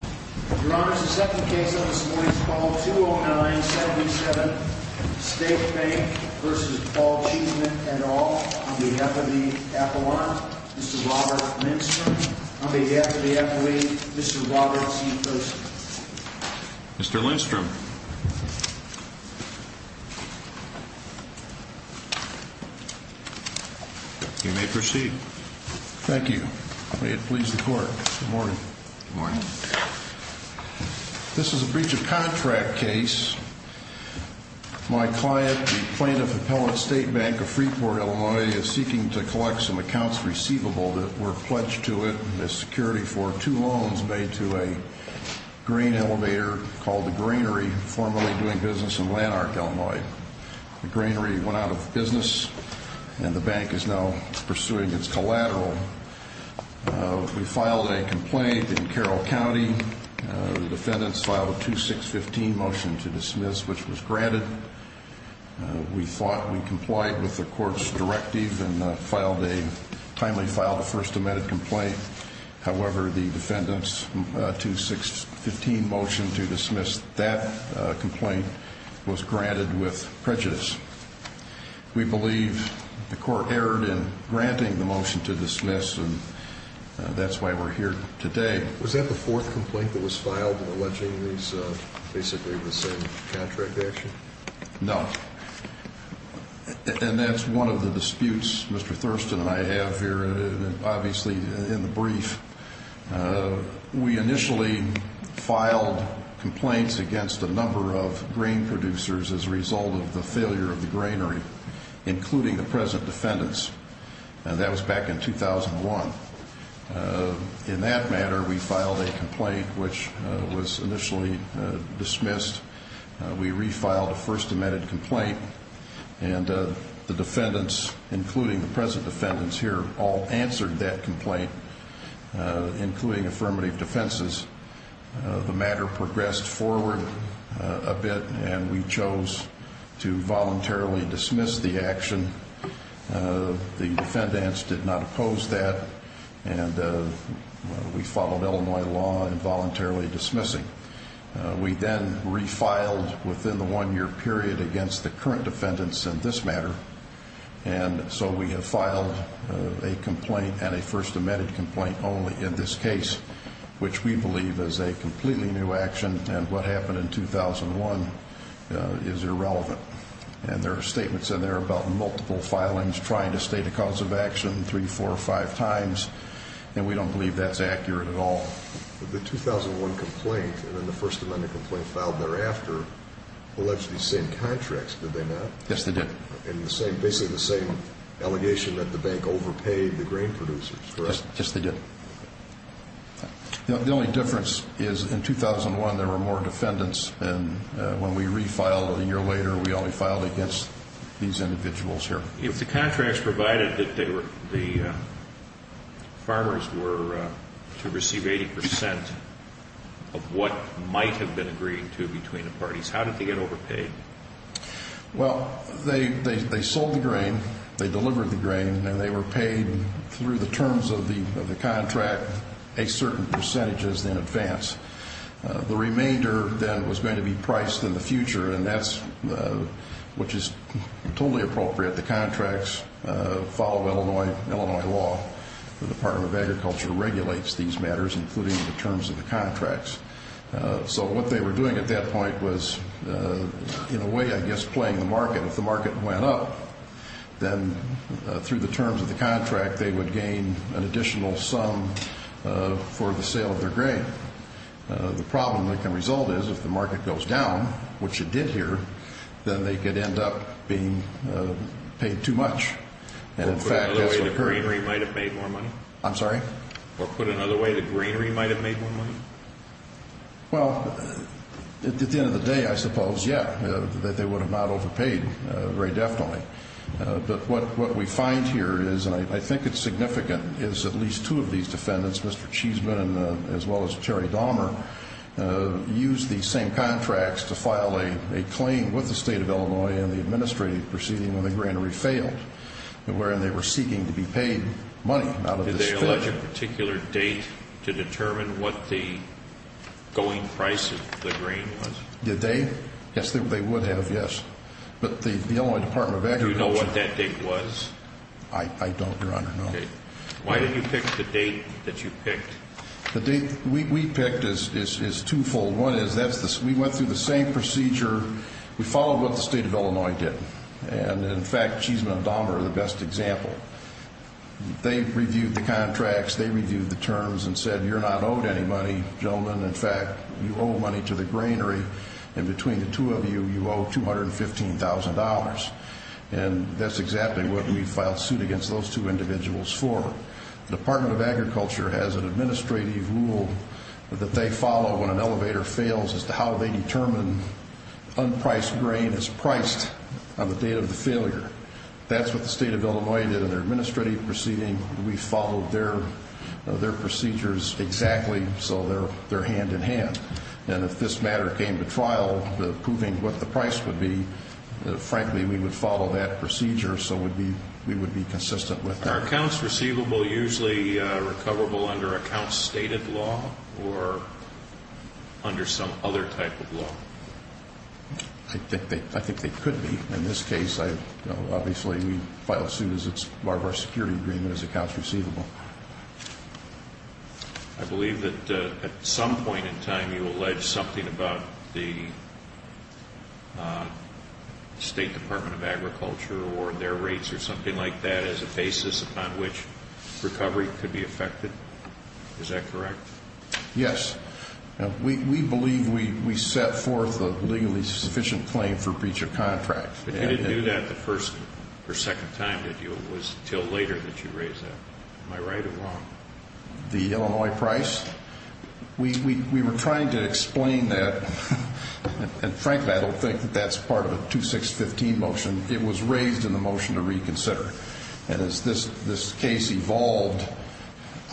Your Honor, the second case on this morning's call, 209-77, State Bank v. Paul Cheeseman and all, on behalf of the appellant, Mr. Robert Lindstrom. On behalf of the appellee, Mr. Robert C. Thurston. Mr. Lindstrom. You may proceed. Thank you. May it please the Court. Good morning. Good morning. This is a breach of contract case. My client, the plaintiff, Appellate State Bank of Freeport, Illinois, is seeking to collect some accounts receivable that were pledged to it as security for two loans made to a grain elevator called the Grainery, formerly doing business in Lanark, Illinois. The Grainery went out of business and the bank is now pursuing its collateral. We filed a complaint in Carroll County. The defendants filed a 2615 motion to dismiss, which was granted. We thought we complied with the Court's directive and timely filed a First Amendment complaint. However, the defendants' 2615 motion to dismiss that complaint was granted with prejudice. We believe the Court erred in granting the motion to dismiss, and that's why we're here today. Was that the fourth complaint that was filed alleging these basically were the same contract action? No. And that's one of the disputes Mr. Thurston and I have here, obviously, in the brief. We initially filed complaints against a number of grain producers as a result of the failure of the Grainery, including the present defendants. That was back in 2001. In that matter, we filed a complaint, which was initially dismissed. We refiled a First Amendment complaint, and the defendants, including the present defendants here, all answered that complaint, including affirmative defenses. The matter progressed forward a bit, and we chose to voluntarily dismiss the action. The defendants did not oppose that, and we followed Illinois law in voluntarily dismissing. We then refiled within the one-year period against the current defendants in this matter, and so we have filed a complaint and a First Amendment complaint only in this case, which we believe is a completely new action, and what happened in 2001 is irrelevant. And there are statements in there about multiple filings, trying to state a cause of action three, four, or five times, and we don't believe that's accurate at all. The 2001 complaint and then the First Amendment complaint filed thereafter alleged these same contracts, did they not? Yes, they did. And basically the same allegation that the bank overpaid the grain producers, correct? Yes, they did. The only difference is in 2001 there were more defendants, and when we refiled a year later, we only filed against these individuals here. If the contracts provided that the farmers were to receive 80 percent of what might have been agreed to between the parties, how did they get overpaid? Well, they sold the grain, they delivered the grain, and they were paid through the terms of the contract a certain percentage in advance. The remainder then was going to be priced in the future, which is totally appropriate. The contracts follow Illinois law. The Department of Agriculture regulates these matters, including the terms of the contracts. So what they were doing at that point was, in a way, I guess, playing the market. If the market went up, then through the terms of the contract, they would gain an additional sum for the sale of their grain. The problem that can result is if the market goes down, which it did here, then they could end up being paid too much. Or put another way, the granary might have made more money. I'm sorry? Or put another way, the granary might have made more money. Well, at the end of the day, I suppose, yeah, that they would have not overpaid, very definitely. But what we find here is, and I think it's significant, is at least two of these defendants, Mr. Cheesman as well as Terry Dahmer, used these same contracts to file a claim with the state of Illinois in the administrative proceeding when the granary failed, wherein they were seeking to be paid money out of this field. Did they allege a particular date to determine what the going price of the grain was? Did they? Yes, they would have, yes. But the Illinois Department of Agriculture. Do you know what that date was? I don't, Your Honor, no. Okay. Why did you pick the date that you picked? The date we picked is twofold. One is we went through the same procedure. We followed what the state of Illinois did. And, in fact, Cheesman and Dahmer are the best example. They reviewed the contracts. They reviewed the terms and said you're not owed any money, gentlemen. In fact, you owe money to the granary. And between the two of you, you owe $215,000. And that's exactly what we filed suit against those two individuals for. The Department of Agriculture has an administrative rule that they follow when an elevator fails as to how they determine unpriced grain is priced on the date of the failure. That's what the state of Illinois did in their administrative proceeding. We followed their procedures exactly so they're hand-in-hand. And if this matter came to trial, proving what the price would be, frankly, we would follow that procedure so we would be consistent with that. Are accounts receivable usually recoverable under account-stated law or under some other type of law? I think they could be. In this case, obviously, we filed suit as part of our security agreement as accounts receivable. I believe that at some point in time you alleged something about the State Department of Agriculture or their rates or something like that as a basis upon which recovery could be affected. Is that correct? Yes. We believe we set forth a legally sufficient claim for breach of contract. But you didn't do that the first or second time, did you? It was until later that you raised that. Am I right or wrong? The Illinois price? We were trying to explain that. And, frankly, I don't think that that's part of a 2-6-15 motion. It was raised in the motion to reconsider. And as this case evolved,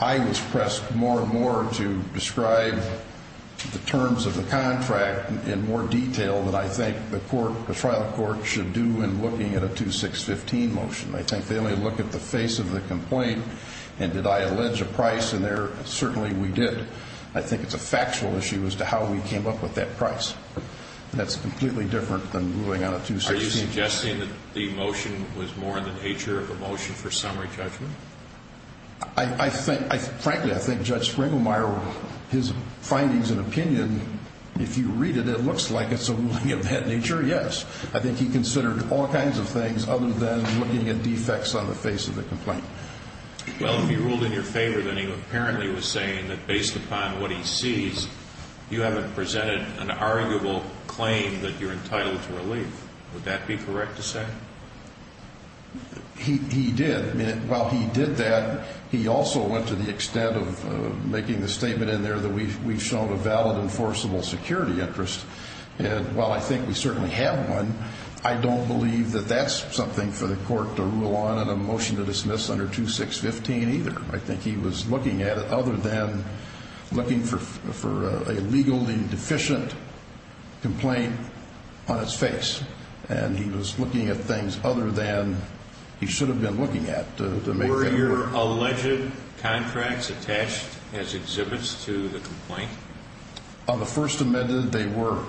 I was pressed more and more to describe the terms of the contract in more detail than I think the trial court should do in looking at a 2-6-15 motion. I think they only look at the face of the complaint, and did I allege a price in there? Certainly we did. I think it's a factual issue as to how we came up with that price. Are you suggesting that the motion was more in the nature of a motion for summary judgment? Frankly, I think Judge Springermeier, his findings and opinion, if you read it, it looks like it's a ruling of that nature, yes. I think he considered all kinds of things other than looking at defects on the face of the complaint. Well, if he ruled in your favor, then he apparently was saying that based upon what he sees, you haven't presented an arguable claim that you're entitled to relief. Would that be correct to say? He did. While he did that, he also went to the extent of making the statement in there that we've shown a valid enforceable security interest. And while I think we certainly have one, I don't believe that that's something for the court to rule on in a motion to dismiss under 2-6-15 either. I think he was looking at it other than looking for a legally deficient complaint on its face. And he was looking at things other than he should have been looking at. Were there alleged contracts attached as exhibits to the complaint? On the First Amendment, they were.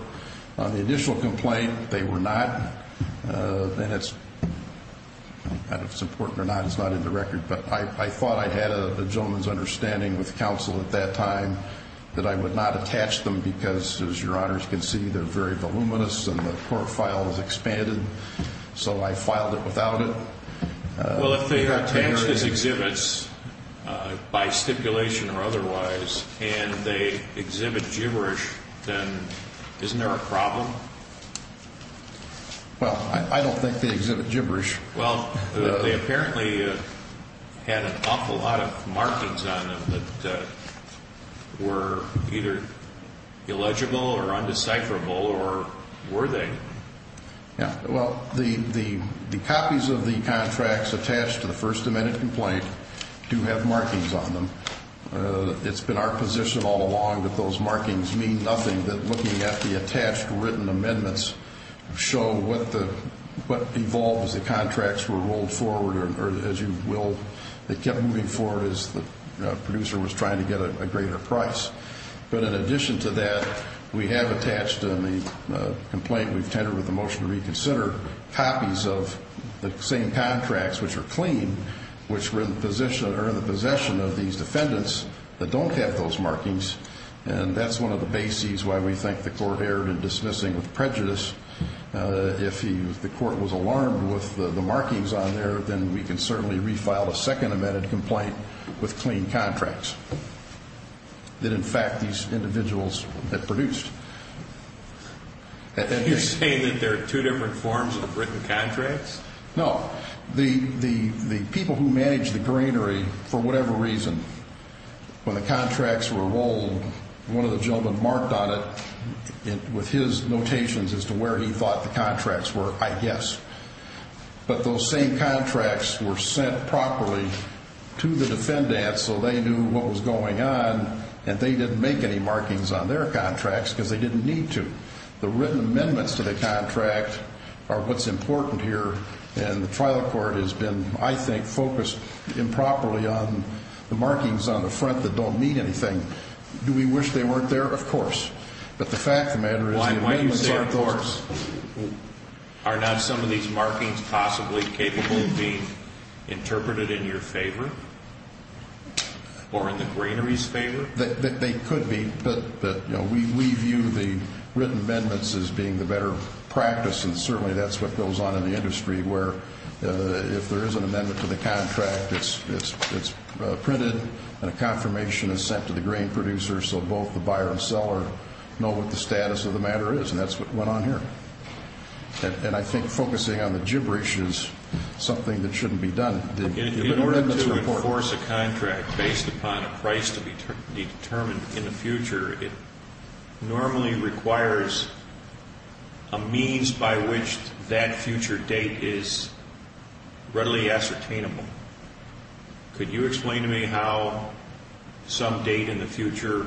On the initial complaint, they were not. I don't know if it's important or not. It's not in the record. But I thought I had a gentleman's understanding with counsel at that time that I would not attach them because, as Your Honors can see, they're very voluminous and the court file is expanded. So I filed it without it. Well, if they attach these exhibits by stipulation or otherwise and they exhibit gibberish, then isn't there a problem? Well, I don't think they exhibit gibberish. Well, they apparently had an awful lot of markings on them that were either illegible or undecipherable, or were they? Well, the copies of the contracts attached to the First Amendment complaint do have markings on them. It's been our position all along that those markings mean nothing, that looking at the attached written amendments show what evolved as the contracts were rolled forward, or, as you will, they kept moving forward as the producer was trying to get a greater price. But in addition to that, we have attached in the complaint we've tendered with the motion to reconsider copies of the same contracts, which are clean, which were in the possession of these defendants that don't have those markings, and that's one of the bases why we think the court erred in dismissing with prejudice. If the court was alarmed with the markings on there, then we can certainly refile a Second Amendment complaint with clean contracts that, in fact, these individuals had produced. Are you saying that there are two different forms of written contracts? No. The people who manage the greenery, for whatever reason, when the contracts were rolled, one of the gentlemen marked on it with his notations as to where he thought the contracts were, I guess. But those same contracts were sent properly to the defendants so they knew what was going on, and they didn't make any markings on their contracts because they didn't need to. The written amendments to the contract are what's important here, and the trial court has been, I think, focused improperly on the markings on the front that don't mean anything. Do we wish they weren't there? Of course. But the fact of the matter is the amendments aren't there. Are not some of these markings possibly capable of being interpreted in your favor or in the greenery's favor? They could be, but we view the written amendments as being the better practice, and certainly that's what goes on in the industry where if there is an amendment to the contract, it's printed and a confirmation is sent to the grain producer so both the buyer and seller know what the status of the matter is, and that's what went on here. And I think focusing on the gibberish is something that shouldn't be done. In order to enforce a contract based upon a price to be determined in the future, it normally requires a means by which that future date is readily ascertainable. Could you explain to me how some date in the future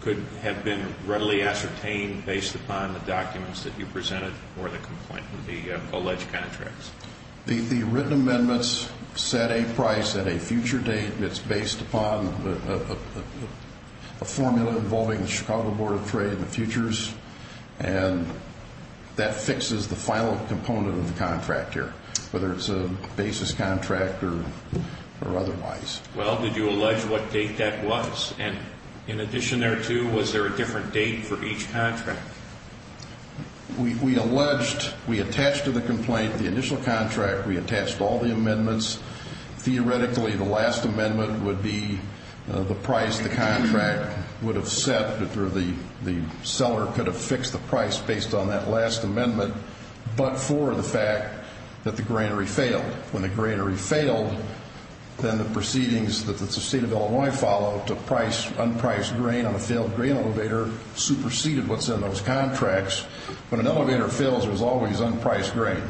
could have been readily ascertained based upon the documents that you presented or the alleged contracts? The written amendments set a price at a future date. It's based upon a formula involving the Chicago Board of Trade and the futures, and that fixes the final component of the contract here, whether it's a basis contract or otherwise. Well, did you allege what date that was? And in addition thereto, was there a different date for each contract? We alleged, we attached to the complaint the initial contract. We attached all the amendments. Theoretically, the last amendment would be the price the contract would have set or the seller could have fixed the price based on that last amendment but for the fact that the granary failed. When the granary failed, then the proceedings that the State of Illinois followed to price unpriced grain on a failed grain elevator superseded what's in those contracts. When an elevator fails, there's always unpriced grain,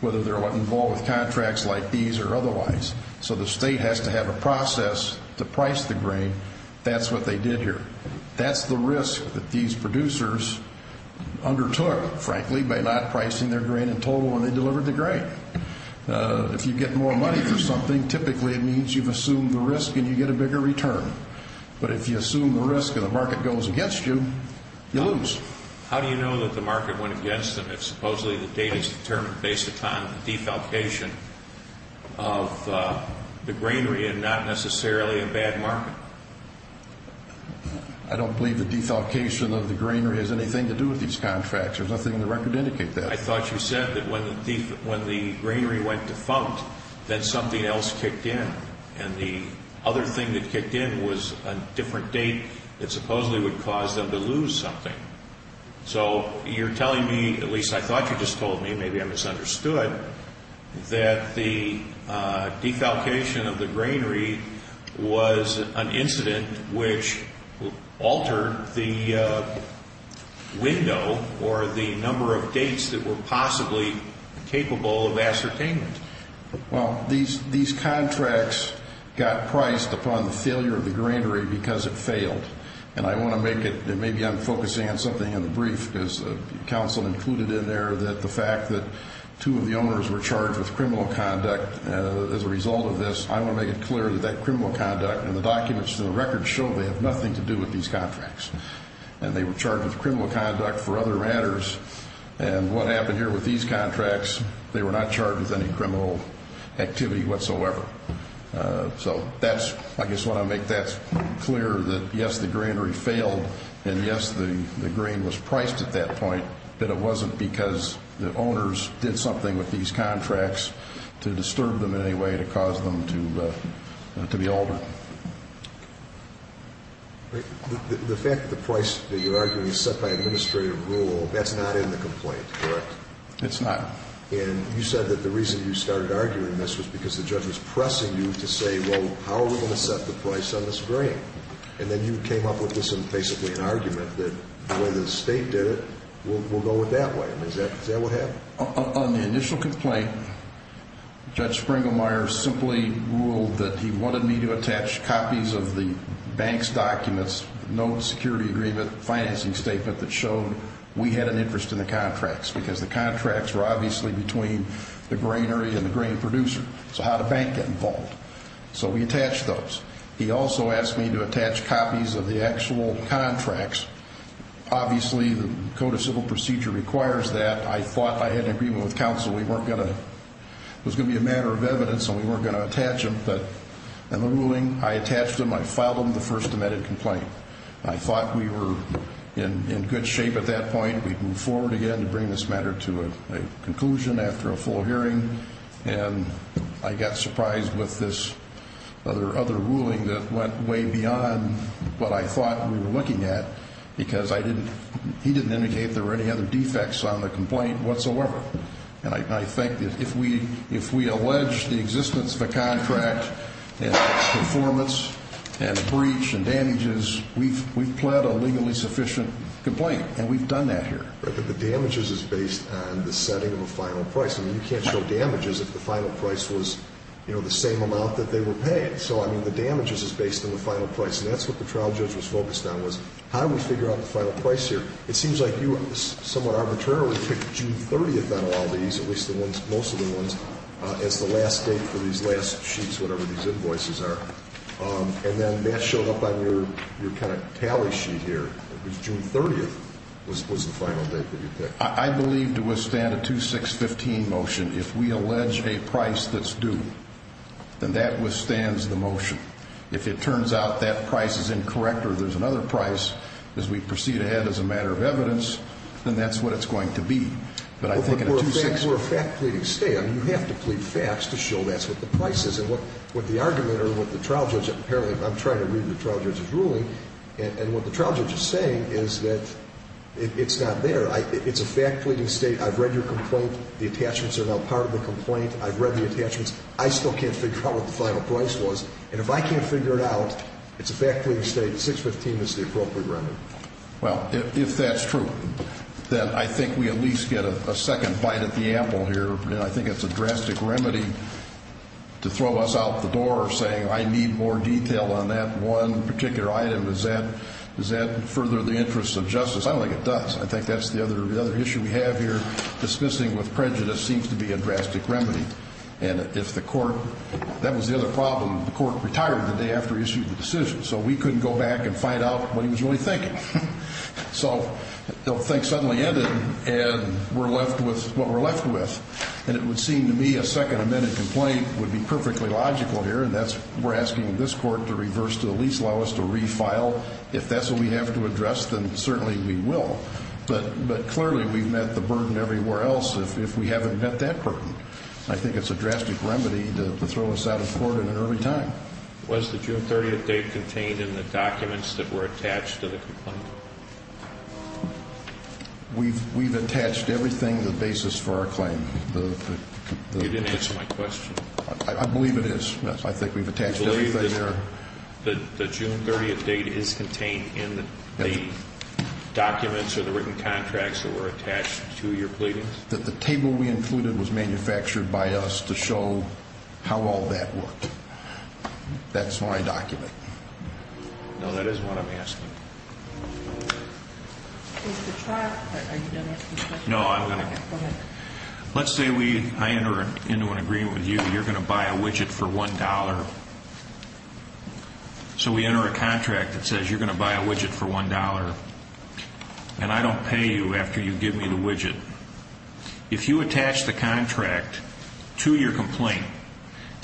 whether they're involved with contracts like these or otherwise. So the state has to have a process to price the grain. That's what they did here. That's the risk that these producers undertook, frankly, by not pricing their grain in total when they delivered the grain. If you get more money for something, typically it means you've assumed the risk and you get a bigger return. But if you assume the risk and the market goes against you, you lose. How do you know that the market went against them if supposedly the date is determined based upon the defalcation of the granary and not necessarily a bad market? I don't believe the defalcation of the granary has anything to do with these contracts. There's nothing in the record to indicate that. I thought you said that when the granary went defunct, then something else kicked in. And the other thing that kicked in was a different date that supposedly would cause them to lose something. So you're telling me, at least I thought you just told me, maybe I misunderstood, that the defalcation of the granary was an incident which altered the window or the number of dates that were possibly capable of ascertainment. Well, these contracts got priced upon the failure of the granary because it failed. And I want to make it, and maybe I'm focusing on something in the brief, because the counsel included in there that the fact that two of the owners were charged with criminal conduct as a result of this, I want to make it clear that that criminal conduct and the documents and the records show they have nothing to do with these contracts. And they were charged with criminal conduct for other matters. And what happened here with these contracts, they were not charged with any criminal activity whatsoever. So I guess I want to make that clear that, yes, the granary failed, and, yes, the grain was priced at that point, but it wasn't because the owners did something with these contracts to disturb them in any way to cause them to be altered. The fact that the price that you're arguing is set by administrative rule, that's not in the complaint, correct? It's not. And you said that the reason you started arguing this was because the judge was pressing you to say, well, how are we going to set the price on this grain? And then you came up with this basically an argument that the way the state did it, we'll go with that way. I mean, is that what happened? On the initial complaint, Judge Springlemeyer simply ruled that he wanted me to attach copies of the bank's documents, notes, security agreement, financing statement that showed we had an interest in the contracts because the contracts were obviously between the granary and the grain producer. So how did the bank get involved? So we attached those. He also asked me to attach copies of the actual contracts. Obviously, the Code of Civil Procedure requires that. I thought I had an agreement with counsel. It was going to be a matter of evidence, and we weren't going to attach them. But in the ruling, I attached them. I filed them the first amended complaint. I thought we were in good shape at that point. We'd move forward again to bring this matter to a conclusion after a full hearing. And I got surprised with this other ruling that went way beyond what I thought we were looking at because he didn't indicate there were any other defects on the complaint whatsoever. And I think that if we allege the existence of a contract and its performance and breach and damages, we've pled a legally sufficient complaint, and we've done that here. But the damages is based on the setting of a final price. I mean, you can't show damages if the final price was, you know, the same amount that they were paid. So, I mean, the damages is based on the final price. And that's what the trial judge was focused on was how do we figure out the final price here. It seems like you somewhat arbitrarily picked June 30th out of all these, at least most of the ones, as the last date for these last sheets, whatever these invoices are. And then that showed up on your kind of tally sheet here. It was June 30th was the final date that you picked. I believe to withstand a 2-6-15 motion, if we allege a price that's due, then that withstands the motion. If it turns out that price is incorrect or there's another price as we proceed ahead as a matter of evidence, then that's what it's going to be. But I think in a 2-6-15. But we're a fact pleading state. I mean, you have to plead facts to show that's what the price is. And what the argument or what the trial judge apparently, I'm trying to read the trial judge's ruling, and what the trial judge is saying is that it's not there. It's a fact pleading state. I've read your complaint. The attachments are now part of the complaint. I've read the attachments. I still can't figure out what the final price was. And if I can't figure it out, it's a fact pleading state, 6-15 is the appropriate remedy. Well, if that's true, then I think we at least get a second bite at the apple here. I think it's a drastic remedy to throw us out the door saying I need more detail on that one particular item. Does that further the interests of justice? I don't think it does. I think that's the other issue we have here. Dismissing with prejudice seems to be a drastic remedy. And if the court, that was the other problem, the court retired the day after he issued the decision, so we couldn't go back and find out what he was really thinking. So the whole thing suddenly ended, and we're left with what we're left with. And it would seem to me a second amended complaint would be perfectly logical here, and that's we're asking this court to reverse to the least lowest or refile. If that's what we have to address, then certainly we will. But clearly we've met the burden everywhere else if we haven't met that burden. I think it's a drastic remedy to throw us out of court at an early time. Was the June 30th date contained in the documents that were attached to the complaint? We've attached everything to the basis for our claim. You didn't answer my question. I believe it is. I think we've attached everything there. Do you believe that the June 30th date is contained in the documents or the written contracts that were attached to your pleadings? I believe that the table we included was manufactured by us to show how all that worked. That's my document. No, that is what I'm asking. Mr. Trott, are you done asking questions? No, I'm going to go. Okay, go ahead. Let's say I enter into an agreement with you, you're going to buy a widget for $1. So we enter a contract that says you're going to buy a widget for $1, and I don't pay you after you give me the widget. If you attach the contract to your complaint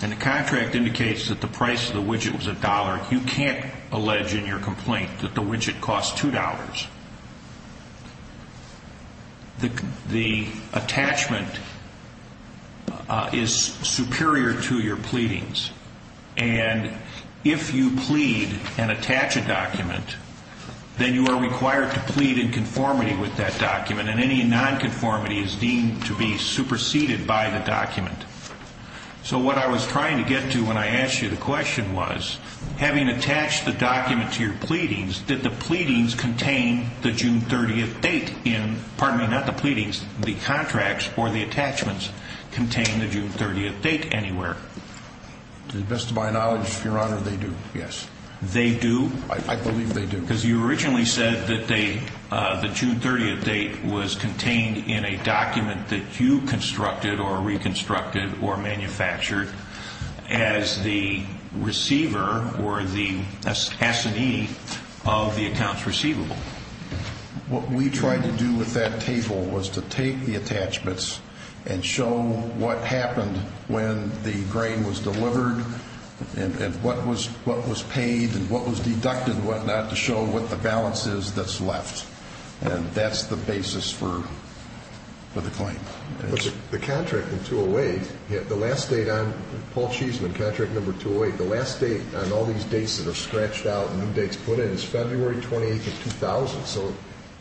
and the contract indicates that the price of the widget was $1, you can't allege in your complaint that the widget cost $2. The attachment is superior to your pleadings. And if you plead and attach a document, then you are required to plead in conformity with that document, and any nonconformity is deemed to be superseded by the document. So what I was trying to get to when I asked you the question was, having attached the document to your pleadings, did the pleadings contain the June 30th date in, pardon me, not the pleadings, the contracts or the attachments contain the June 30th date anywhere? To the best of my knowledge, Your Honor, they do, yes. They do? I believe they do. Because you originally said that the June 30th date was contained in a document that you constructed or reconstructed or manufactured as the receiver or the S&E of the accounts receivable. What we tried to do with that table was to take the attachments and show what happened when the grain was delivered and what was paid and what was deducted and what not to show what the balance is that's left. And that's the basis for the claim. The contract in 208, the last date on Paul Cheesman, contract number 208, the last date on all these dates that are scratched out and new dates put in is February 28th of 2000. So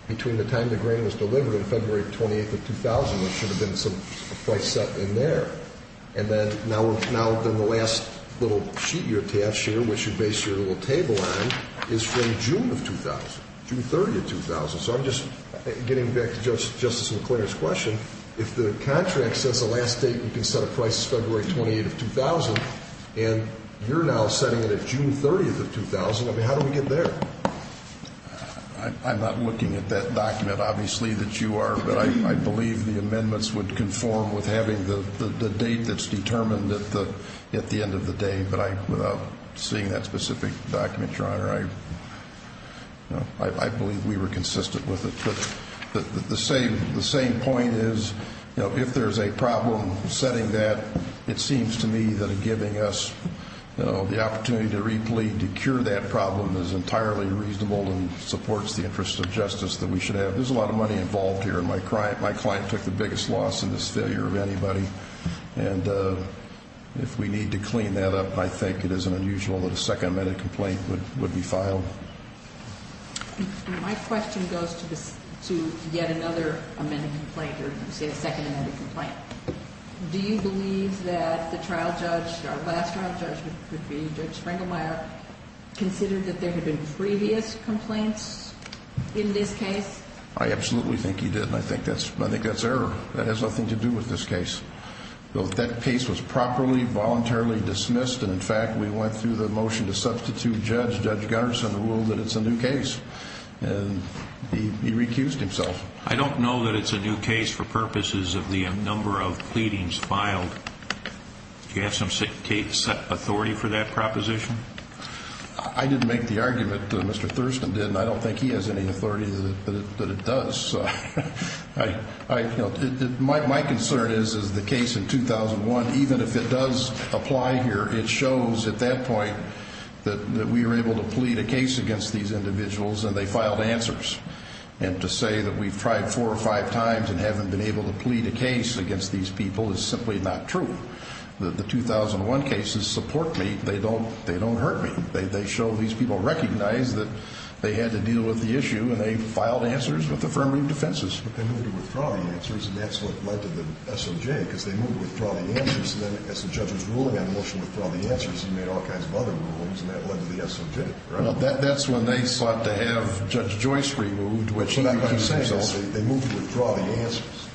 between the time the grain was delivered and February 28th of 2000, there should have been some price set in there. And then now the last little sheet you attached here, which you base your little table on, is from June of 2000, June 30th of 2000. So I'm just getting back to Justice McClainer's question. If the contract says the last date you can set a price is February 28th of 2000 and you're now setting it at June 30th of 2000, how do we get there? I'm not looking at that document, obviously, that you are, but I believe the amendments would conform with having the date that's determined at the end of the day. But without seeing that specific document, Your Honor, I believe we were consistent with it. But the same point is if there's a problem setting that, it seems to me that giving us the opportunity to replete, to cure that problem, is entirely reasonable and supports the interest of justice that we should have. There's a lot of money involved here, and my client took the biggest loss in this failure of anybody. And if we need to clean that up, I think it isn't unusual that a second amended complaint would be filed. My question goes to yet another amended complaint, or let's say a second amended complaint. Do you believe that the trial judge, our last trial judge would be Judge Spranglemeyer, considered that there had been previous complaints in this case? I absolutely think he did, and I think that's error. That has nothing to do with this case. That case was properly, voluntarily dismissed, and in fact we went through the motion to substitute judge, Judge Gunnarsson, who ruled that it's a new case, and he recused himself. I don't know that it's a new case for purposes of the number of pleadings filed. Do you have some authority for that proposition? I didn't make the argument that Mr. Thurston did, and I don't think he has any authority that it does. My concern is, is the case in 2001, even if it does apply here, it shows at that point that we were able to plead a case against these individuals, and they filed answers, and to say that we've tried four or five times and haven't been able to plead a case against these people is simply not true. The 2001 cases support me. They don't hurt me. They show these people recognize that they had to deal with the issue, and they filed answers with affirmative defenses. But they moved to withdraw the answers, and that's what led to the SOJ, because they moved to withdraw the answers, and then as the judge was ruling on the motion to withdraw the answers, he made all kinds of other rulings, and that led to the SOJ. That's when they sought to have Judge Joyce removed, which he did. So they moved to withdraw the answers?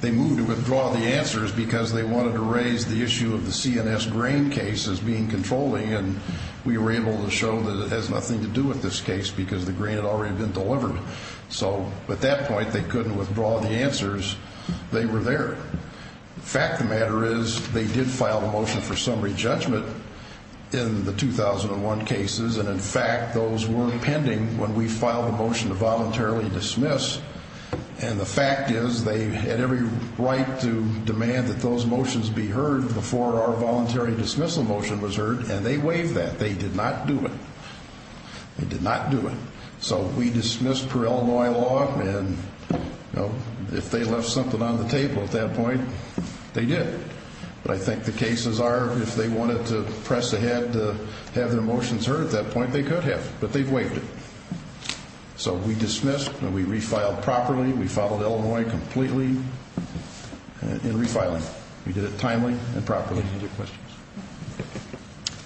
They moved to withdraw the answers because they wanted to raise the issue of the CNS grain case as being controlling, and we were able to show that it has nothing to do with this case because the grain had already been delivered. So at that point, they couldn't withdraw the answers. They were there. The fact of the matter is they did file a motion for summary judgment in the 2001 cases, and, in fact, those were pending when we filed a motion to voluntarily dismiss, and the fact is they had every right to demand that those motions be heard before our voluntary dismissal motion was heard, and they waived that. They did not do it. They did not do it. So we dismissed per Illinois law, and if they left something on the table at that point, they did. But I think the cases are, if they wanted to press ahead to have their motions heard at that point, they could have, but they waived it. So we dismissed and we refiled properly. We followed Illinois completely in refiling. We did it timely and properly. Any other questions?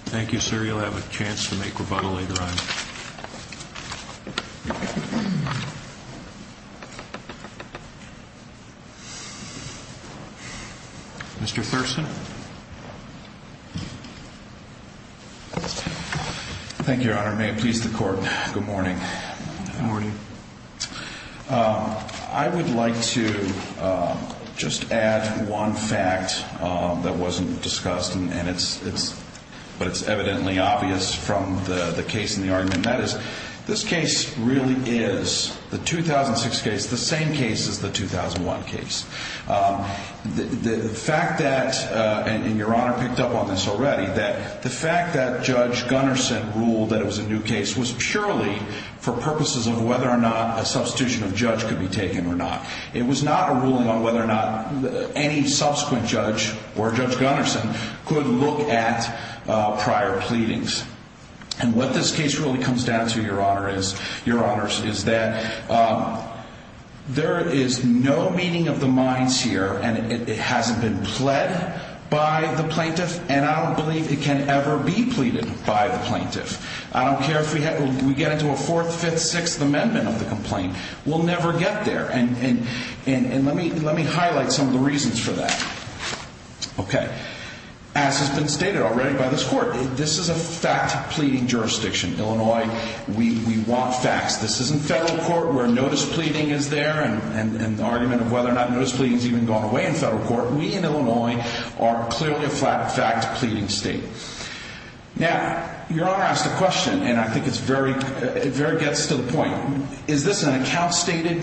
Thank you, sir. You'll have a chance to make rebuttal later on. Mr. Thurston? Thank you, Your Honor. May it please the Court, good morning. Good morning. I would like to just add one fact that wasn't discussed, but it's evidently obvious from the case and the argument, and that is this case really is, the 2006 case, the same case as the 2001 case. The fact that, and Your Honor picked up on this already, that the fact that Judge Gunnarsson ruled that it was a new case was purely for purposes of whether or not a substitution of judge could be taken or not. It was not a ruling on whether or not any subsequent judge or Judge Gunnarsson could look at prior pleadings. And what this case really comes down to, Your Honor, is that there is no meaning of the minds here, and it hasn't been pled by the plaintiff, and I don't believe it can ever be pleaded by the plaintiff. I don't care if we get into a 4th, 5th, 6th amendment of the complaint. We'll never get there, and let me highlight some of the reasons for that. Okay. As has been stated already by this Court, this is a fact pleading jurisdiction. Illinois, we want facts. This isn't federal court where notice pleading is there, and the argument of whether or not notice pleading has even gone away in federal court. We in Illinois are clearly a fact pleading state. Now, Your Honor asked a question, and I think it very gets to the point. Is this an account-stated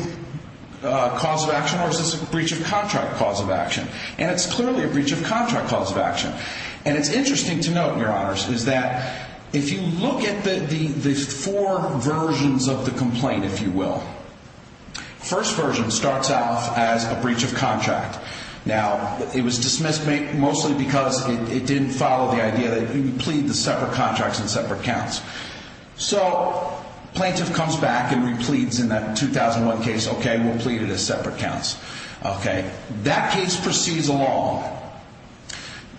cause of action, or is this a breach of contract cause of action? And it's clearly a breach of contract cause of action. And it's interesting to note, Your Honors, is that if you look at the four versions of the complaint, if you will, the first version starts off as a breach of contract. Now, it was dismissed mostly because it didn't follow the idea that you could plead the separate contracts and separate counts. So, plaintiff comes back and repleads in that 2001 case, okay, we'll plead it as separate counts. Okay. That case proceeds along.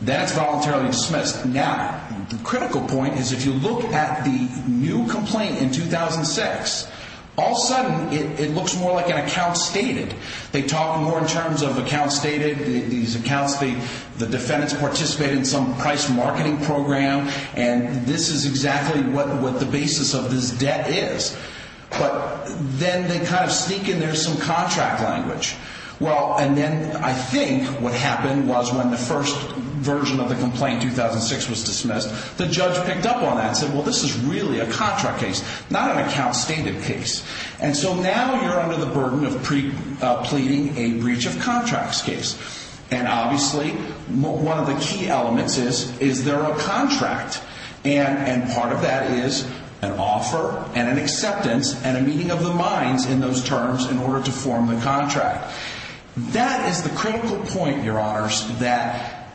Then it's voluntarily dismissed. Now, the critical point is if you look at the new complaint in 2006, all of a sudden it looks more like an account stated. They talk more in terms of account stated. These accounts, the defendants participate in some price marketing program, and this is exactly what the basis of this debt is. But then they kind of sneak in there some contract language. Well, and then I think what happened was when the first version of the complaint, 2006, was dismissed, the judge picked up on that and said, well, this is really a contract case, not an account stated case. And so now you're under the burden of pleading a breach of contracts case. And obviously, one of the key elements is, is there a contract? And part of that is an offer and an acceptance and a meeting of the minds in those terms in order to form the contract. That is the critical point, Your Honors, that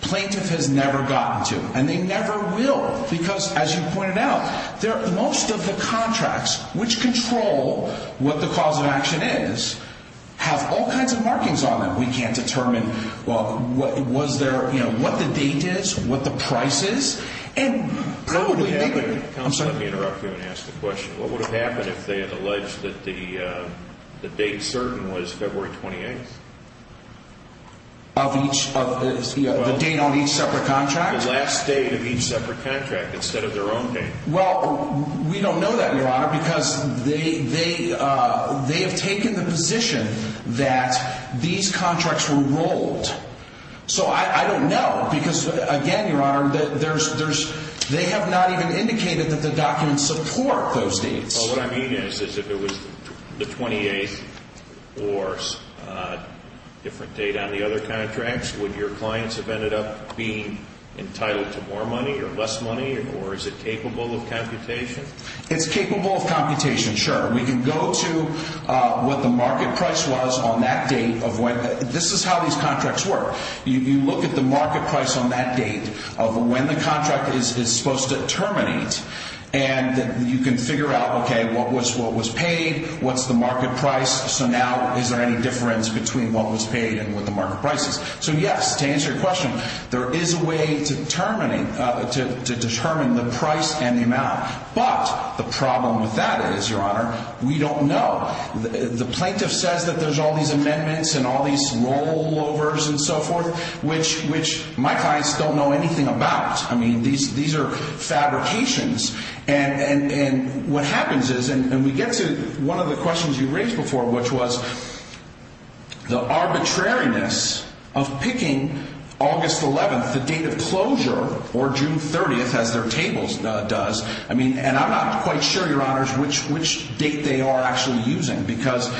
plaintiff has never gotten to. And they never will. Because, as you pointed out, most of the contracts, which control what the cause of action is, have all kinds of markings on them. We can't determine, well, was there, you know, what the date is, what the price is. And probably, I'm sorry. Let me interrupt you and ask the question. What would have happened if they had alleged that the date certain was February 28th? Of each, the date on each separate contract? The last date of each separate contract instead of their own date. Well, we don't know that, Your Honor, because they have taken the position that these contracts were ruled. So I don't know. Because, again, Your Honor, they have not even indicated that the documents support those dates. Well, what I mean is if it was the 28th or a different date on the other contracts, would your clients have ended up being entitled to more money or less money, or is it capable of computation? It's capable of computation, sure. We can go to what the market price was on that date of when. This is how these contracts work. You look at the market price on that date of when the contract is supposed to terminate. And you can figure out, okay, what was paid, what's the market price, so now is there any difference between what was paid and what the market price is. So, yes, to answer your question, there is a way to determine the price and the amount. But the problem with that is, Your Honor, we don't know. The plaintiff says that there's all these amendments and all these rollovers and so forth, which my clients don't know anything about. I mean, these are fabrications. And what happens is, and we get to one of the questions you raised before, which was the arbitrariness of picking August 11th, the date of closure, or June 30th, as their table does. I mean, and I'm not quite sure, Your Honors, which date they are actually using, because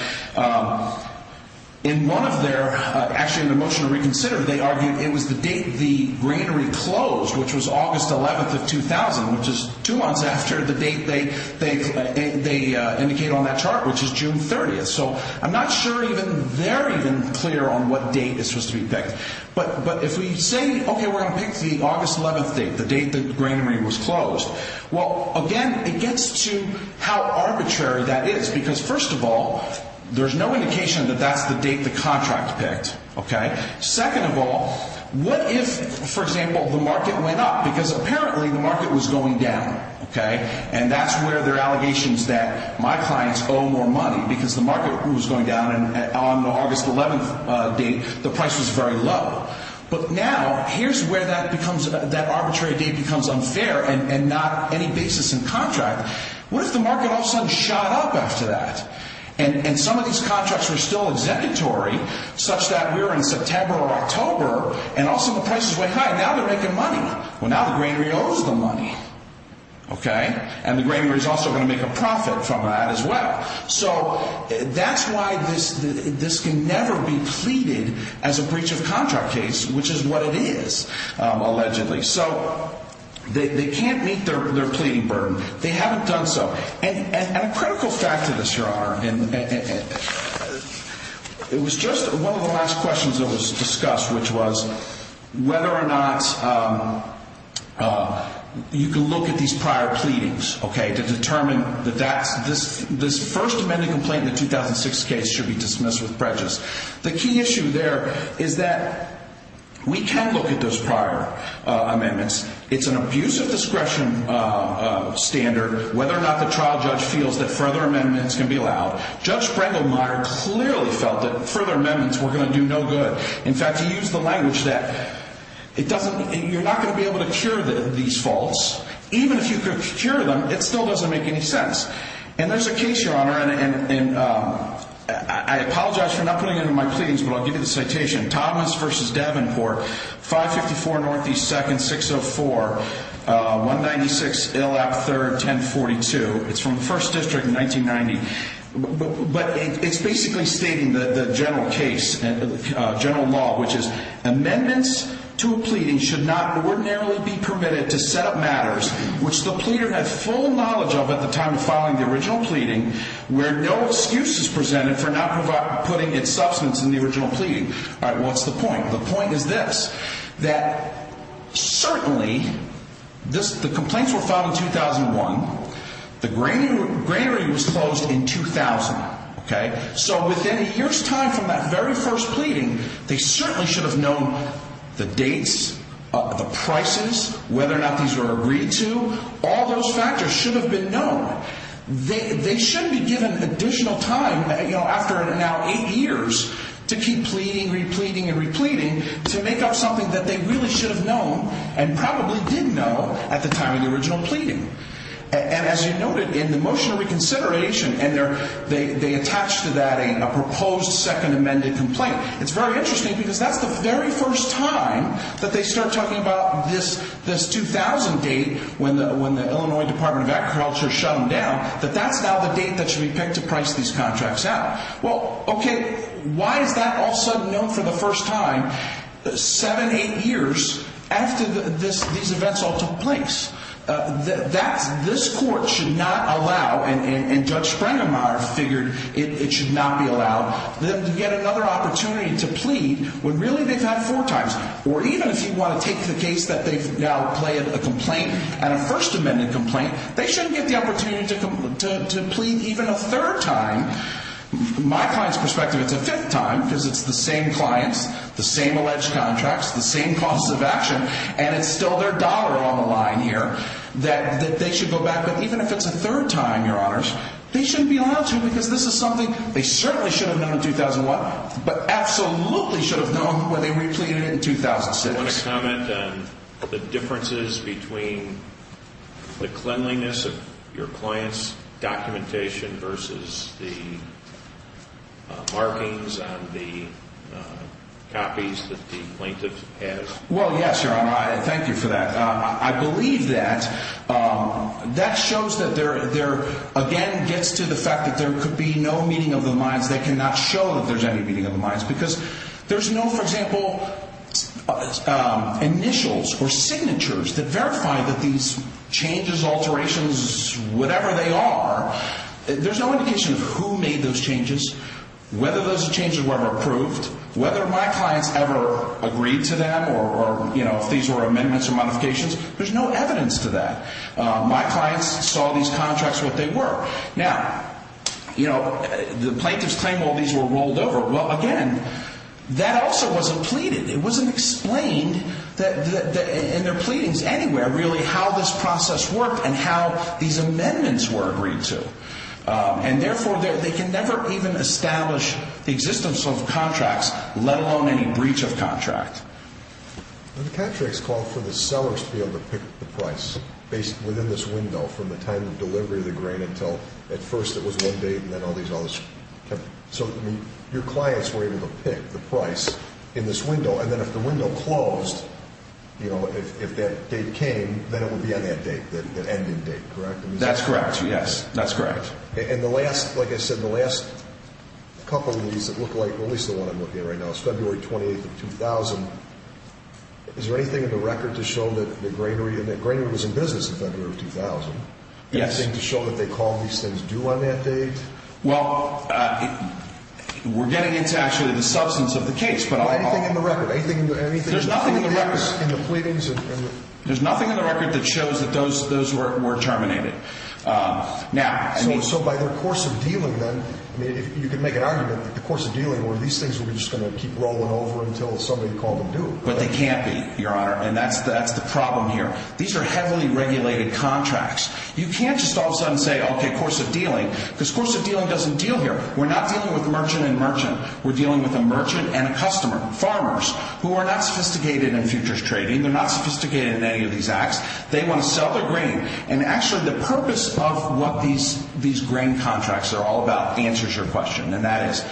in one of their, actually in the motion to reconsider, they argued it was the date the granary closed, which was August 11th of 2000, which is two months after the date they indicate on that chart, which is June 30th. So I'm not sure even they're even clear on what date is supposed to be picked. But if we say, okay, we're going to pick the August 11th date, the date the granary was closed, well, again, it gets to how arbitrary that is. Because, first of all, there's no indication that that's the date the contract picked. Second of all, what if, for example, the market went up? Because apparently the market was going down. And that's where there are allegations that my clients owe more money, because the market was going down, and on the August 11th date, the price was very low. But now, here's where that arbitrary date becomes unfair, and not any basis in contract. What if the market all of a sudden shot up after that? And some of these contracts were still executory, such that we're in September or October, and also the price is way high. Now they're making money. Well, now the granary owes the money. And the granary is also going to make a profit from that as well. So that's why this can never be pleaded as a breach of contract case, which is what it is, allegedly. So they can't meet their pleading burden. They haven't done so. And a critical fact to this, Your Honor, and it was just one of the last questions that was discussed, which was whether or not you can look at these prior pleadings, okay, to determine that this first amended complaint in the 2006 case should be dismissed with prejudice. The key issue there is that we can look at those prior amendments. It's an abuse of discretion standard, whether or not the trial judge feels that further amendments can be allowed. Judge Brengelmeyer clearly felt that further amendments were going to do no good. In fact, he used the language that you're not going to be able to cure these faults. Even if you could cure them, it still doesn't make any sense. And there's a case, Your Honor, and I apologize for not putting it in my pleadings, but I'll give you the citation. Thomas v. Davenport, 554 Northeast 2nd, 604, 196 Illap 3rd, 1042. It's from the 1st District in 1990. But it's basically stating the general case, general law, which is amendments to a pleading should not ordinarily be permitted to set up matters, which the pleader had full knowledge of at the time of filing the original pleading, where no excuse is presented for not putting its substance in the original pleading. All right, well, what's the point? The point is this, that certainly the complaints were filed in 2001. The granary was closed in 2000. So within a year's time from that very first pleading, they certainly should have known the dates, the prices, whether or not these were agreed to. All those factors should have been known. They shouldn't be given additional time after now eight years to keep pleading, repleting, and repleting to make up something that they really should have known and probably did know at the time of the original pleading. And as you noted, in the motion of reconsideration, they attached to that a proposed second amended complaint. It's very interesting because that's the very first time that they start talking about this 2000 date when the Illinois Department of Agriculture shut them down, that that's now the date that should be picked to price these contracts out. Well, okay, why is that all of a sudden known for the first time seven, eight years after these events all took place? This court should not allow, and Judge Sprengenmaier figured it should not be allowed, them to get another opportunity to plead when really they've had four times. Or even if you want to take the case that they've now pleaded a complaint and a first amended complaint, they shouldn't get the opportunity to plead even a third time. From my client's perspective, it's a fifth time because it's the same clients, the same alleged contracts, the same cost of action, and it's still their dollar on the line here that they should go back. But even if it's a third time, Your Honors, they shouldn't be allowed to because this is something they certainly should have known in 2001, but absolutely should have known when they repleted it in 2006. Do you want to comment on the differences between the cleanliness of your client's documentation versus the markings on the copies that the plaintiff has? Well, yes, Your Honor, I thank you for that. I believe that that shows that there, again, gets to the fact that there could be no meeting of the minds. They cannot show that there's any meeting of the minds because there's no, for example, initials or signatures that verify that these changes, alterations, whatever they are, there's no indication of who made those changes, whether those changes were ever approved, whether my clients ever agreed to them or if these were amendments or modifications. There's no evidence to that. My clients saw these contracts what they were. Now, you know, the plaintiffs claim all these were rolled over. Well, again, that also wasn't pleaded. It wasn't explained in their pleadings anywhere, really, how this process worked and how these amendments were agreed to. And, therefore, they can never even establish the existence of contracts, let alone any breach of contract. The contract's called for the sellers to be able to pick the price within this window from the time of delivery of the grain until at first it was one date and then all these others. So your clients were able to pick the price in this window, and then if the window closed, you know, if that date came, then it would be on that date, that ending date, correct? That's correct, yes. That's correct. And the last, like I said, the last couple of these that look like at least the one I'm looking at right now, it's February 28th of 2000. Is there anything in the record to show that the grainery was in business in February of 2000? Yes. Anything to show that they called these things due on that date? Well, we're getting into actually the substance of the case. Anything in the record? There's nothing in the record. In the pleadings? There's nothing in the record that shows that those were terminated. So by their course of dealing then, I mean, you could make an argument that the course of dealing were these things were just going to keep rolling over until somebody called them due. But they can't be, Your Honor, and that's the problem here. These are heavily regulated contracts. You can't just all of a sudden say, okay, course of dealing, because course of dealing doesn't deal here. We're not dealing with merchant and merchant. We're dealing with a merchant and a customer, farmers, who are not sophisticated in futures trading. They're not sophisticated in any of these acts. They want to sell their grain, and actually the purpose of what these grain contracts are all about answers your question, and that is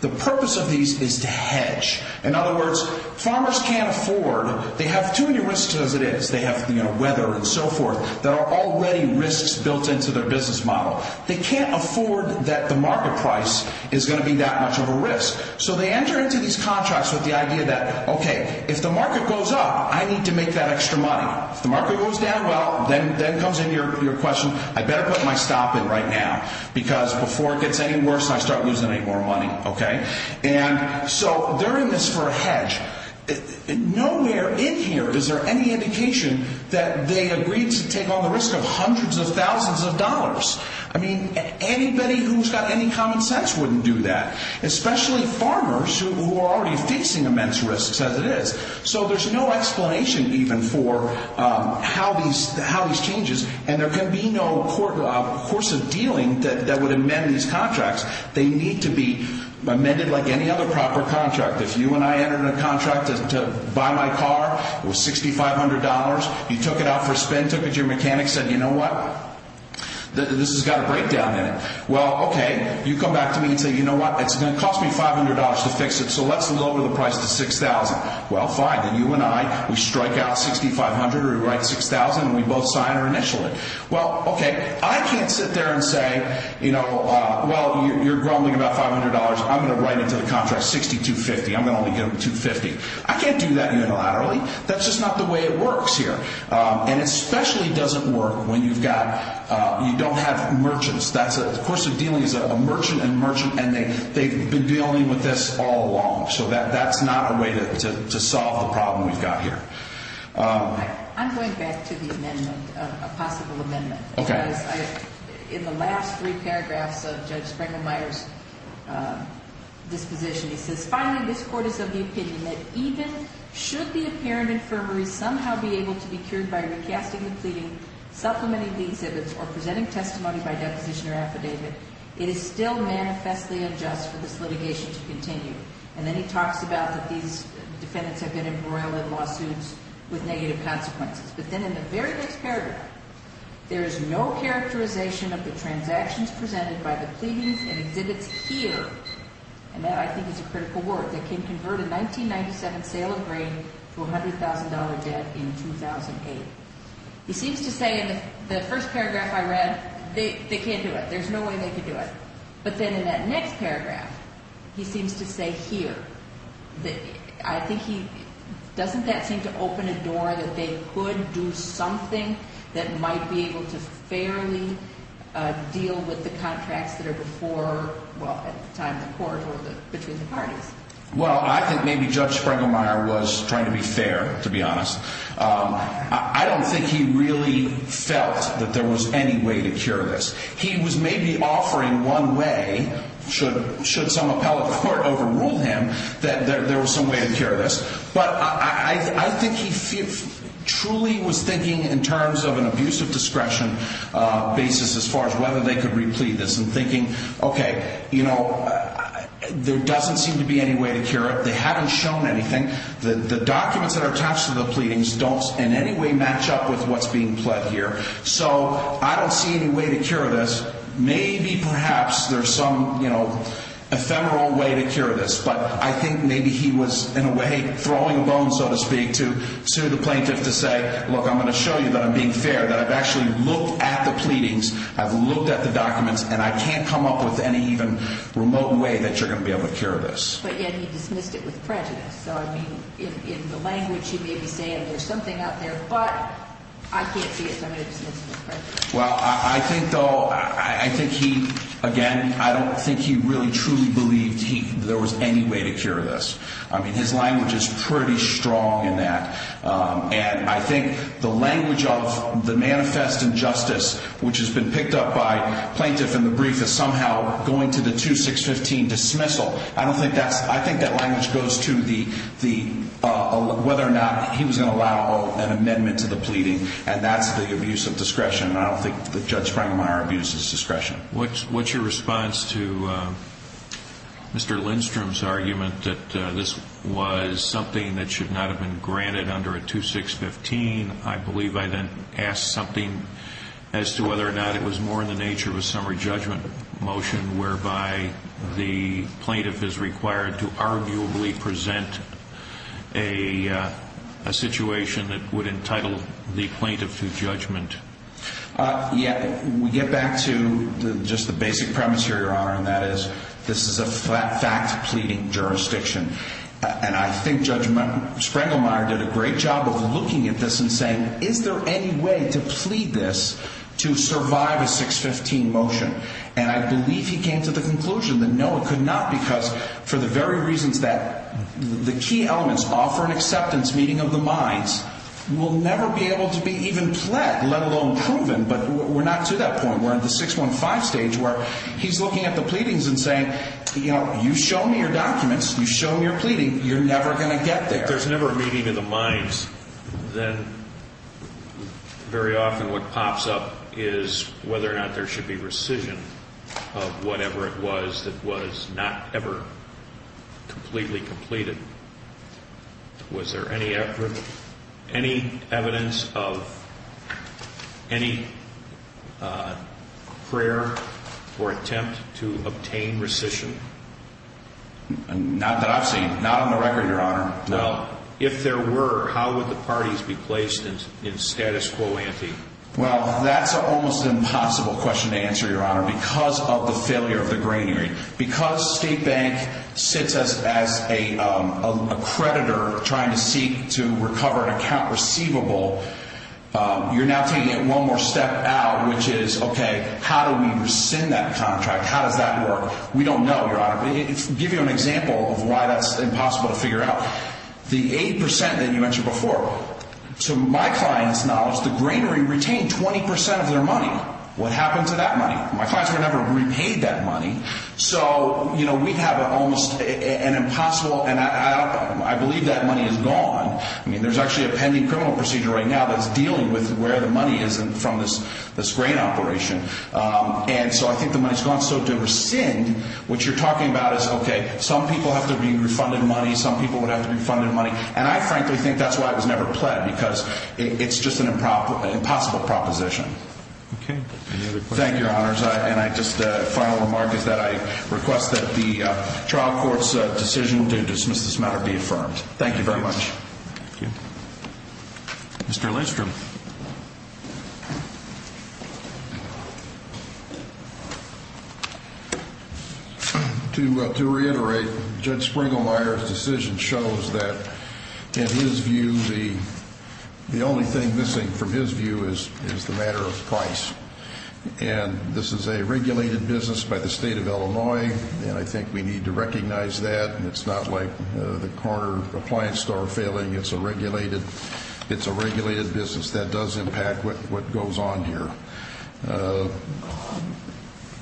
the purpose of these is to hedge. In other words, farmers can't afford, they have too many risks as it is. They have weather and so forth that are already risks built into their business model. They can't afford that the market price is going to be that much of a risk. So they enter into these contracts with the idea that, okay, if the market goes up, I need to make that extra money. If the market goes down, well, then comes in your question, I better put my stop in right now, because before it gets any worse and I start losing any more money, okay? And so they're in this for a hedge. Nowhere in here is there any indication that they agreed to take on the risk of hundreds of thousands of dollars. I mean, anybody who's got any common sense wouldn't do that, especially farmers who are already facing immense risks as it is. So there's no explanation even for how these changes, and there can be no course of dealing that would amend these contracts. They need to be amended like any other proper contract. If you and I entered into a contract to buy my car, it was $6,500. You took it out for a spin, took it to your mechanic, said, you know what, this has got a breakdown in it. Well, okay, you come back to me and say, you know what, it's going to cost me $500 to fix it, so let's lower the price to $6,000. Well, fine, then you and I, we strike out $6,500 or we write $6,000 and we both sign or initial it. Well, okay, I can't sit there and say, you know, well, you're grumbling about $500. I'm going to write into the contract $6,250. I'm going to only give them $250. I can't do that unilaterally. That's just not the way it works here. And it especially doesn't work when you've got, you don't have merchants. That's a course of dealing is a merchant and merchant, and they've been dealing with this all along. So that's not a way to solve the problem we've got here. I'm going back to the amendment, a possible amendment. Okay. Because in the last three paragraphs of Judge Springer-Meyer's disposition, he says, Finally, this court is of the opinion that even should the apparent infirmary somehow be able to be cured by recasting the pleading, supplementing the exhibits, or presenting testimony by deposition or affidavit, it is still manifestly unjust for this litigation to continue. And then he talks about that these defendants have been embroiled in lawsuits with negative consequences. But then in the very next paragraph, there is no characterization of the transactions presented by the pleadings and exhibits here, and that I think is a critical word, that can convert a 1997 sale of grain to a $100,000 debt in 2008. He seems to say in the first paragraph I read, they can't do it. There's no way they could do it. But then in that next paragraph, he seems to say here, I think he, doesn't that seem to open a door that they could do something that might be able to fairly deal with the contracts that are before, well, at the time of the court or between the parties? Well, I think maybe Judge Springer-Meyer was trying to be fair, to be honest. I don't think he really felt that there was any way to cure this. He was maybe offering one way, should some appellate court overrule him, that there was some way to cure this. But I think he truly was thinking in terms of an abusive discretion basis as far as whether they could replete this, and thinking, okay, you know, there doesn't seem to be any way to cure it. They haven't shown anything. The documents that are attached to the pleadings don't in any way match up with what's being pled here. So I don't see any way to cure this. Maybe perhaps there's some, you know, ephemeral way to cure this. But I think maybe he was in a way throwing a bone, so to speak, to the plaintiff to say, look, I'm going to show you that I'm being fair, that I've actually looked at the pleadings, I've looked at the documents, and I can't come up with any even remote way that you're going to be able to cure this. But yet he dismissed it with prejudice. So, I mean, in the language you may be saying there's something out there, but I can't see it, so I'm going to dismiss it with prejudice. Well, I think, though, I think he, again, I don't think he really truly believed there was any way to cure this. I mean, his language is pretty strong in that. And I think the language of the manifest injustice, which has been picked up by plaintiff in the brief, is somehow going to the 2615 dismissal. I don't think that's – I think that language goes to the – whether or not he was going to allow an amendment to the pleading, and that's the abuse of discretion. And I don't think that Judge Spangenmeier abused his discretion. What's your response to Mr. Lindstrom's argument that this was something that should not have been granted under a 2615? I believe I then asked something as to whether or not it was more in the nature of a summary judgment motion whereby the plaintiff is required to arguably present a situation that would entitle the plaintiff to judgment. Yeah, we get back to just the basic premise here, Your Honor, and that is this is a fact-pleading jurisdiction. And I think Judge Spangenmeier did a great job of looking at this and saying, is there any way to plead this to survive a 615 motion? And I believe he came to the conclusion that no, it could not, because for the very reasons that the key elements, offer and acceptance, meeting of the minds, will never be able to be even pled, let alone proven. But we're not to that point. We're at the 615 stage where he's looking at the pleadings and saying, you know, you show me your documents, you show me your pleading, you're never going to get there. If there's never a meeting of the minds, then very often what pops up is whether or not there should be rescission of whatever it was that was not ever completely completed. Was there any evidence of any prayer or attempt to obtain rescission? Not that I've seen. Not on the record, Your Honor. Well, if there were, how would the parties be placed in status quo ante? Well, that's almost an impossible question to answer, Your Honor, because of the failure of the greenery. Because State Bank sits us as a creditor trying to seek to recover an account receivable, you're now taking it one more step out, which is, okay, how do we rescind that contract? How does that work? We don't know, Your Honor. To give you an example of why that's impossible to figure out, the 8% that you mentioned before, to my client's knowledge, the greenery retained 20% of their money. What happened to that money? My clients were never repaid that money. So, you know, we have almost an impossible, and I believe that money is gone. I mean, there's actually a pending criminal procedure right now that's dealing with where the money is from this grain operation. And so I think the money's gone. So to rescind, what you're talking about is, okay, some people have to be refunded money, some people would have to be refunded money. And I frankly think that's why it was never pled, because it's just an impossible proposition. Any other questions? Thank you, Your Honors. And I just, final remark is that I request that the trial court's decision to dismiss this matter be affirmed. Thank you very much. Thank you. Mr. Lindstrom. To reiterate, Judge Springlemeyer's decision shows that, in his view, the only thing missing from his view is the matter of price. And this is a regulated business by the state of Illinois, and I think we need to recognize that. And it's not like the corner appliance store failing. It's a regulated business. That does impact what goes on here.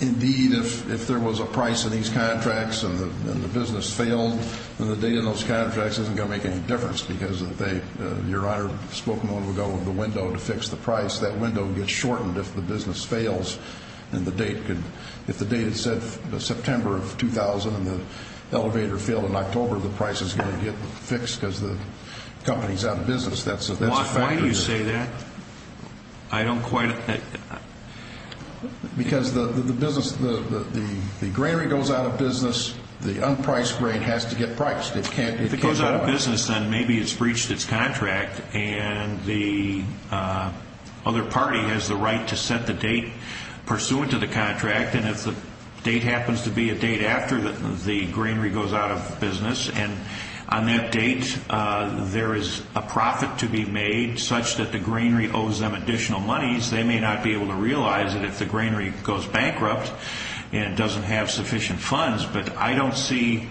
Indeed, if there was a price in these contracts and the business failed, then the date on those contracts isn't going to make any difference, because they, Your Honor, spoke a moment ago of the window to fix the price. That window gets shortened if the business fails. And the date could, if the date is September of 2000 and the elevator failed in October, the price is going to get fixed because the company's out of business. That's a factor. Why do you say that? I don't quite. Because the business, the granary goes out of business. The unpriced grain has to get priced. If it goes out of business, then maybe it's breached its contract, and the other party has the right to set the date pursuant to the contract. And if the date happens to be a date after the granary goes out of business and on that date there is a profit to be made such that the granary owes them additional monies, they may not be able to realize that if the granary goes bankrupt and doesn't have sufficient funds. But I don't see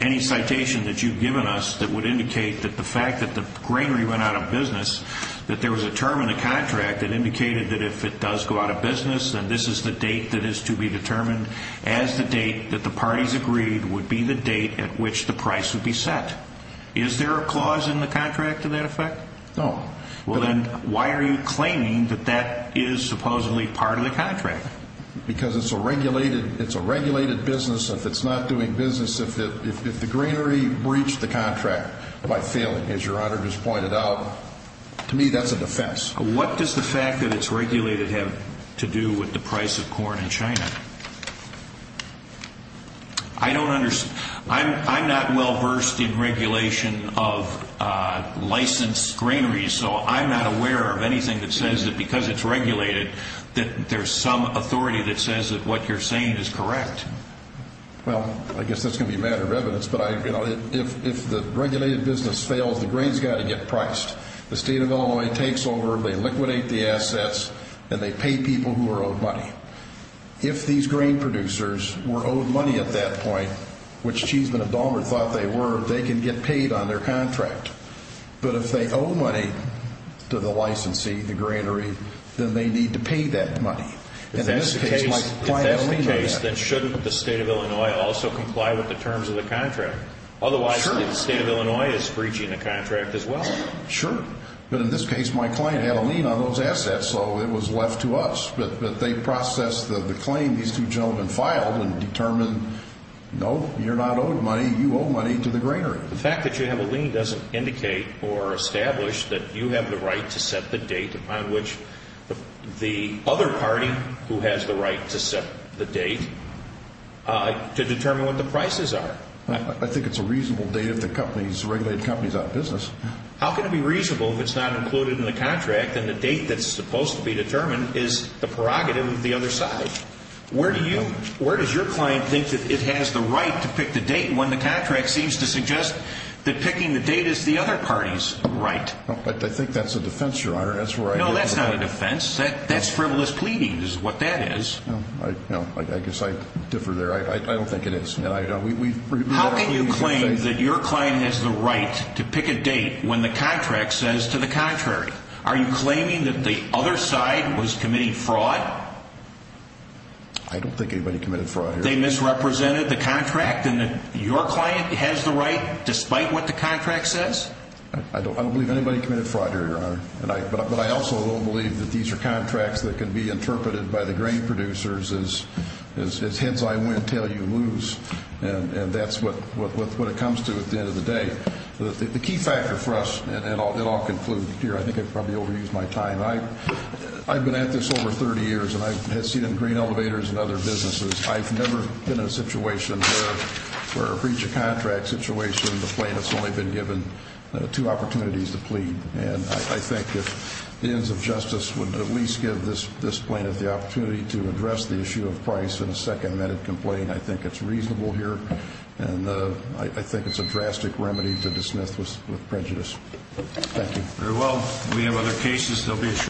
any citation that you've given us that would indicate that the fact that the granary went out of business, that there was a term in the contract that indicated that if it does go out of business, then this is the date that is to be determined as the date that the parties agreed would be the date at which the price would be set. Is there a clause in the contract to that effect? No. Well, then why are you claiming that that is supposedly part of the contract? Because it's a regulated business. If it's not doing business, if the granary breached the contract by failing, as Your Honor just pointed out, to me that's a defense. What does the fact that it's regulated have to do with the price of corn in China? I don't understand. I'm not well versed in regulation of licensed granaries, so I'm not aware of anything that says that because it's regulated that there's some authority that says that what you're saying is correct. Well, I guess that's going to be a matter of evidence. But if the regulated business fails, the grain has got to get priced. The State of Illinois takes over, they liquidate the assets, and they pay people who are owed money. If these grain producers were owed money at that point, which Cheeseman and Dahlmer thought they were, they can get paid on their contract. But if they owe money to the licensee, the granary, then they need to pay that money. If that's the case, then shouldn't the State of Illinois also comply with the terms of the contract? Otherwise, the State of Illinois is breaching the contract as well. Sure. But in this case, my client had a lien on those assets, so it was left to us. But they processed the claim these two gentlemen filed and determined, no, you're not owed money, you owe money to the granary. The fact that you have a lien doesn't indicate or establish that you have the right to set the date upon which the other party, who has the right to set the date, to determine what the prices are. I think it's a reasonable date if the regulated company is out of business. How can it be reasonable if it's not included in the contract and the date that's supposed to be determined is the prerogative of the other side? Where does your client think that it has the right to pick the date when the contract seems to suggest that picking the date is the other party's right? I think that's a defense, Your Honor. No, that's not a defense. That's frivolous pleading is what that is. I guess I differ there. I don't think it is. How can you claim that your client has the right to pick a date when the contract says to the contrary? Are you claiming that the other side was committing fraud? I don't think anybody committed fraud here. They misrepresented the contract and that your client has the right despite what the contract says? I don't believe anybody committed fraud here, Your Honor. But I also don't believe that these are contracts that can be interpreted by the grain producers as heads I win, tail you lose. And that's what it comes to at the end of the day. The key factor for us, and then I'll conclude here. I think I've probably overused my time. I've been at this over 30 years, and I've seen it in grain elevators and other businesses. I've never been in a situation where, for each contract situation, the plaintiff's only been given two opportunities to plead. And I think if the ends of justice would at least give this plaintiff the opportunity to address the issue of price in a second amended complaint, I think it's reasonable here. And I think it's a drastic remedy to dismiss with prejudice. Thank you. Very well. We have other cases.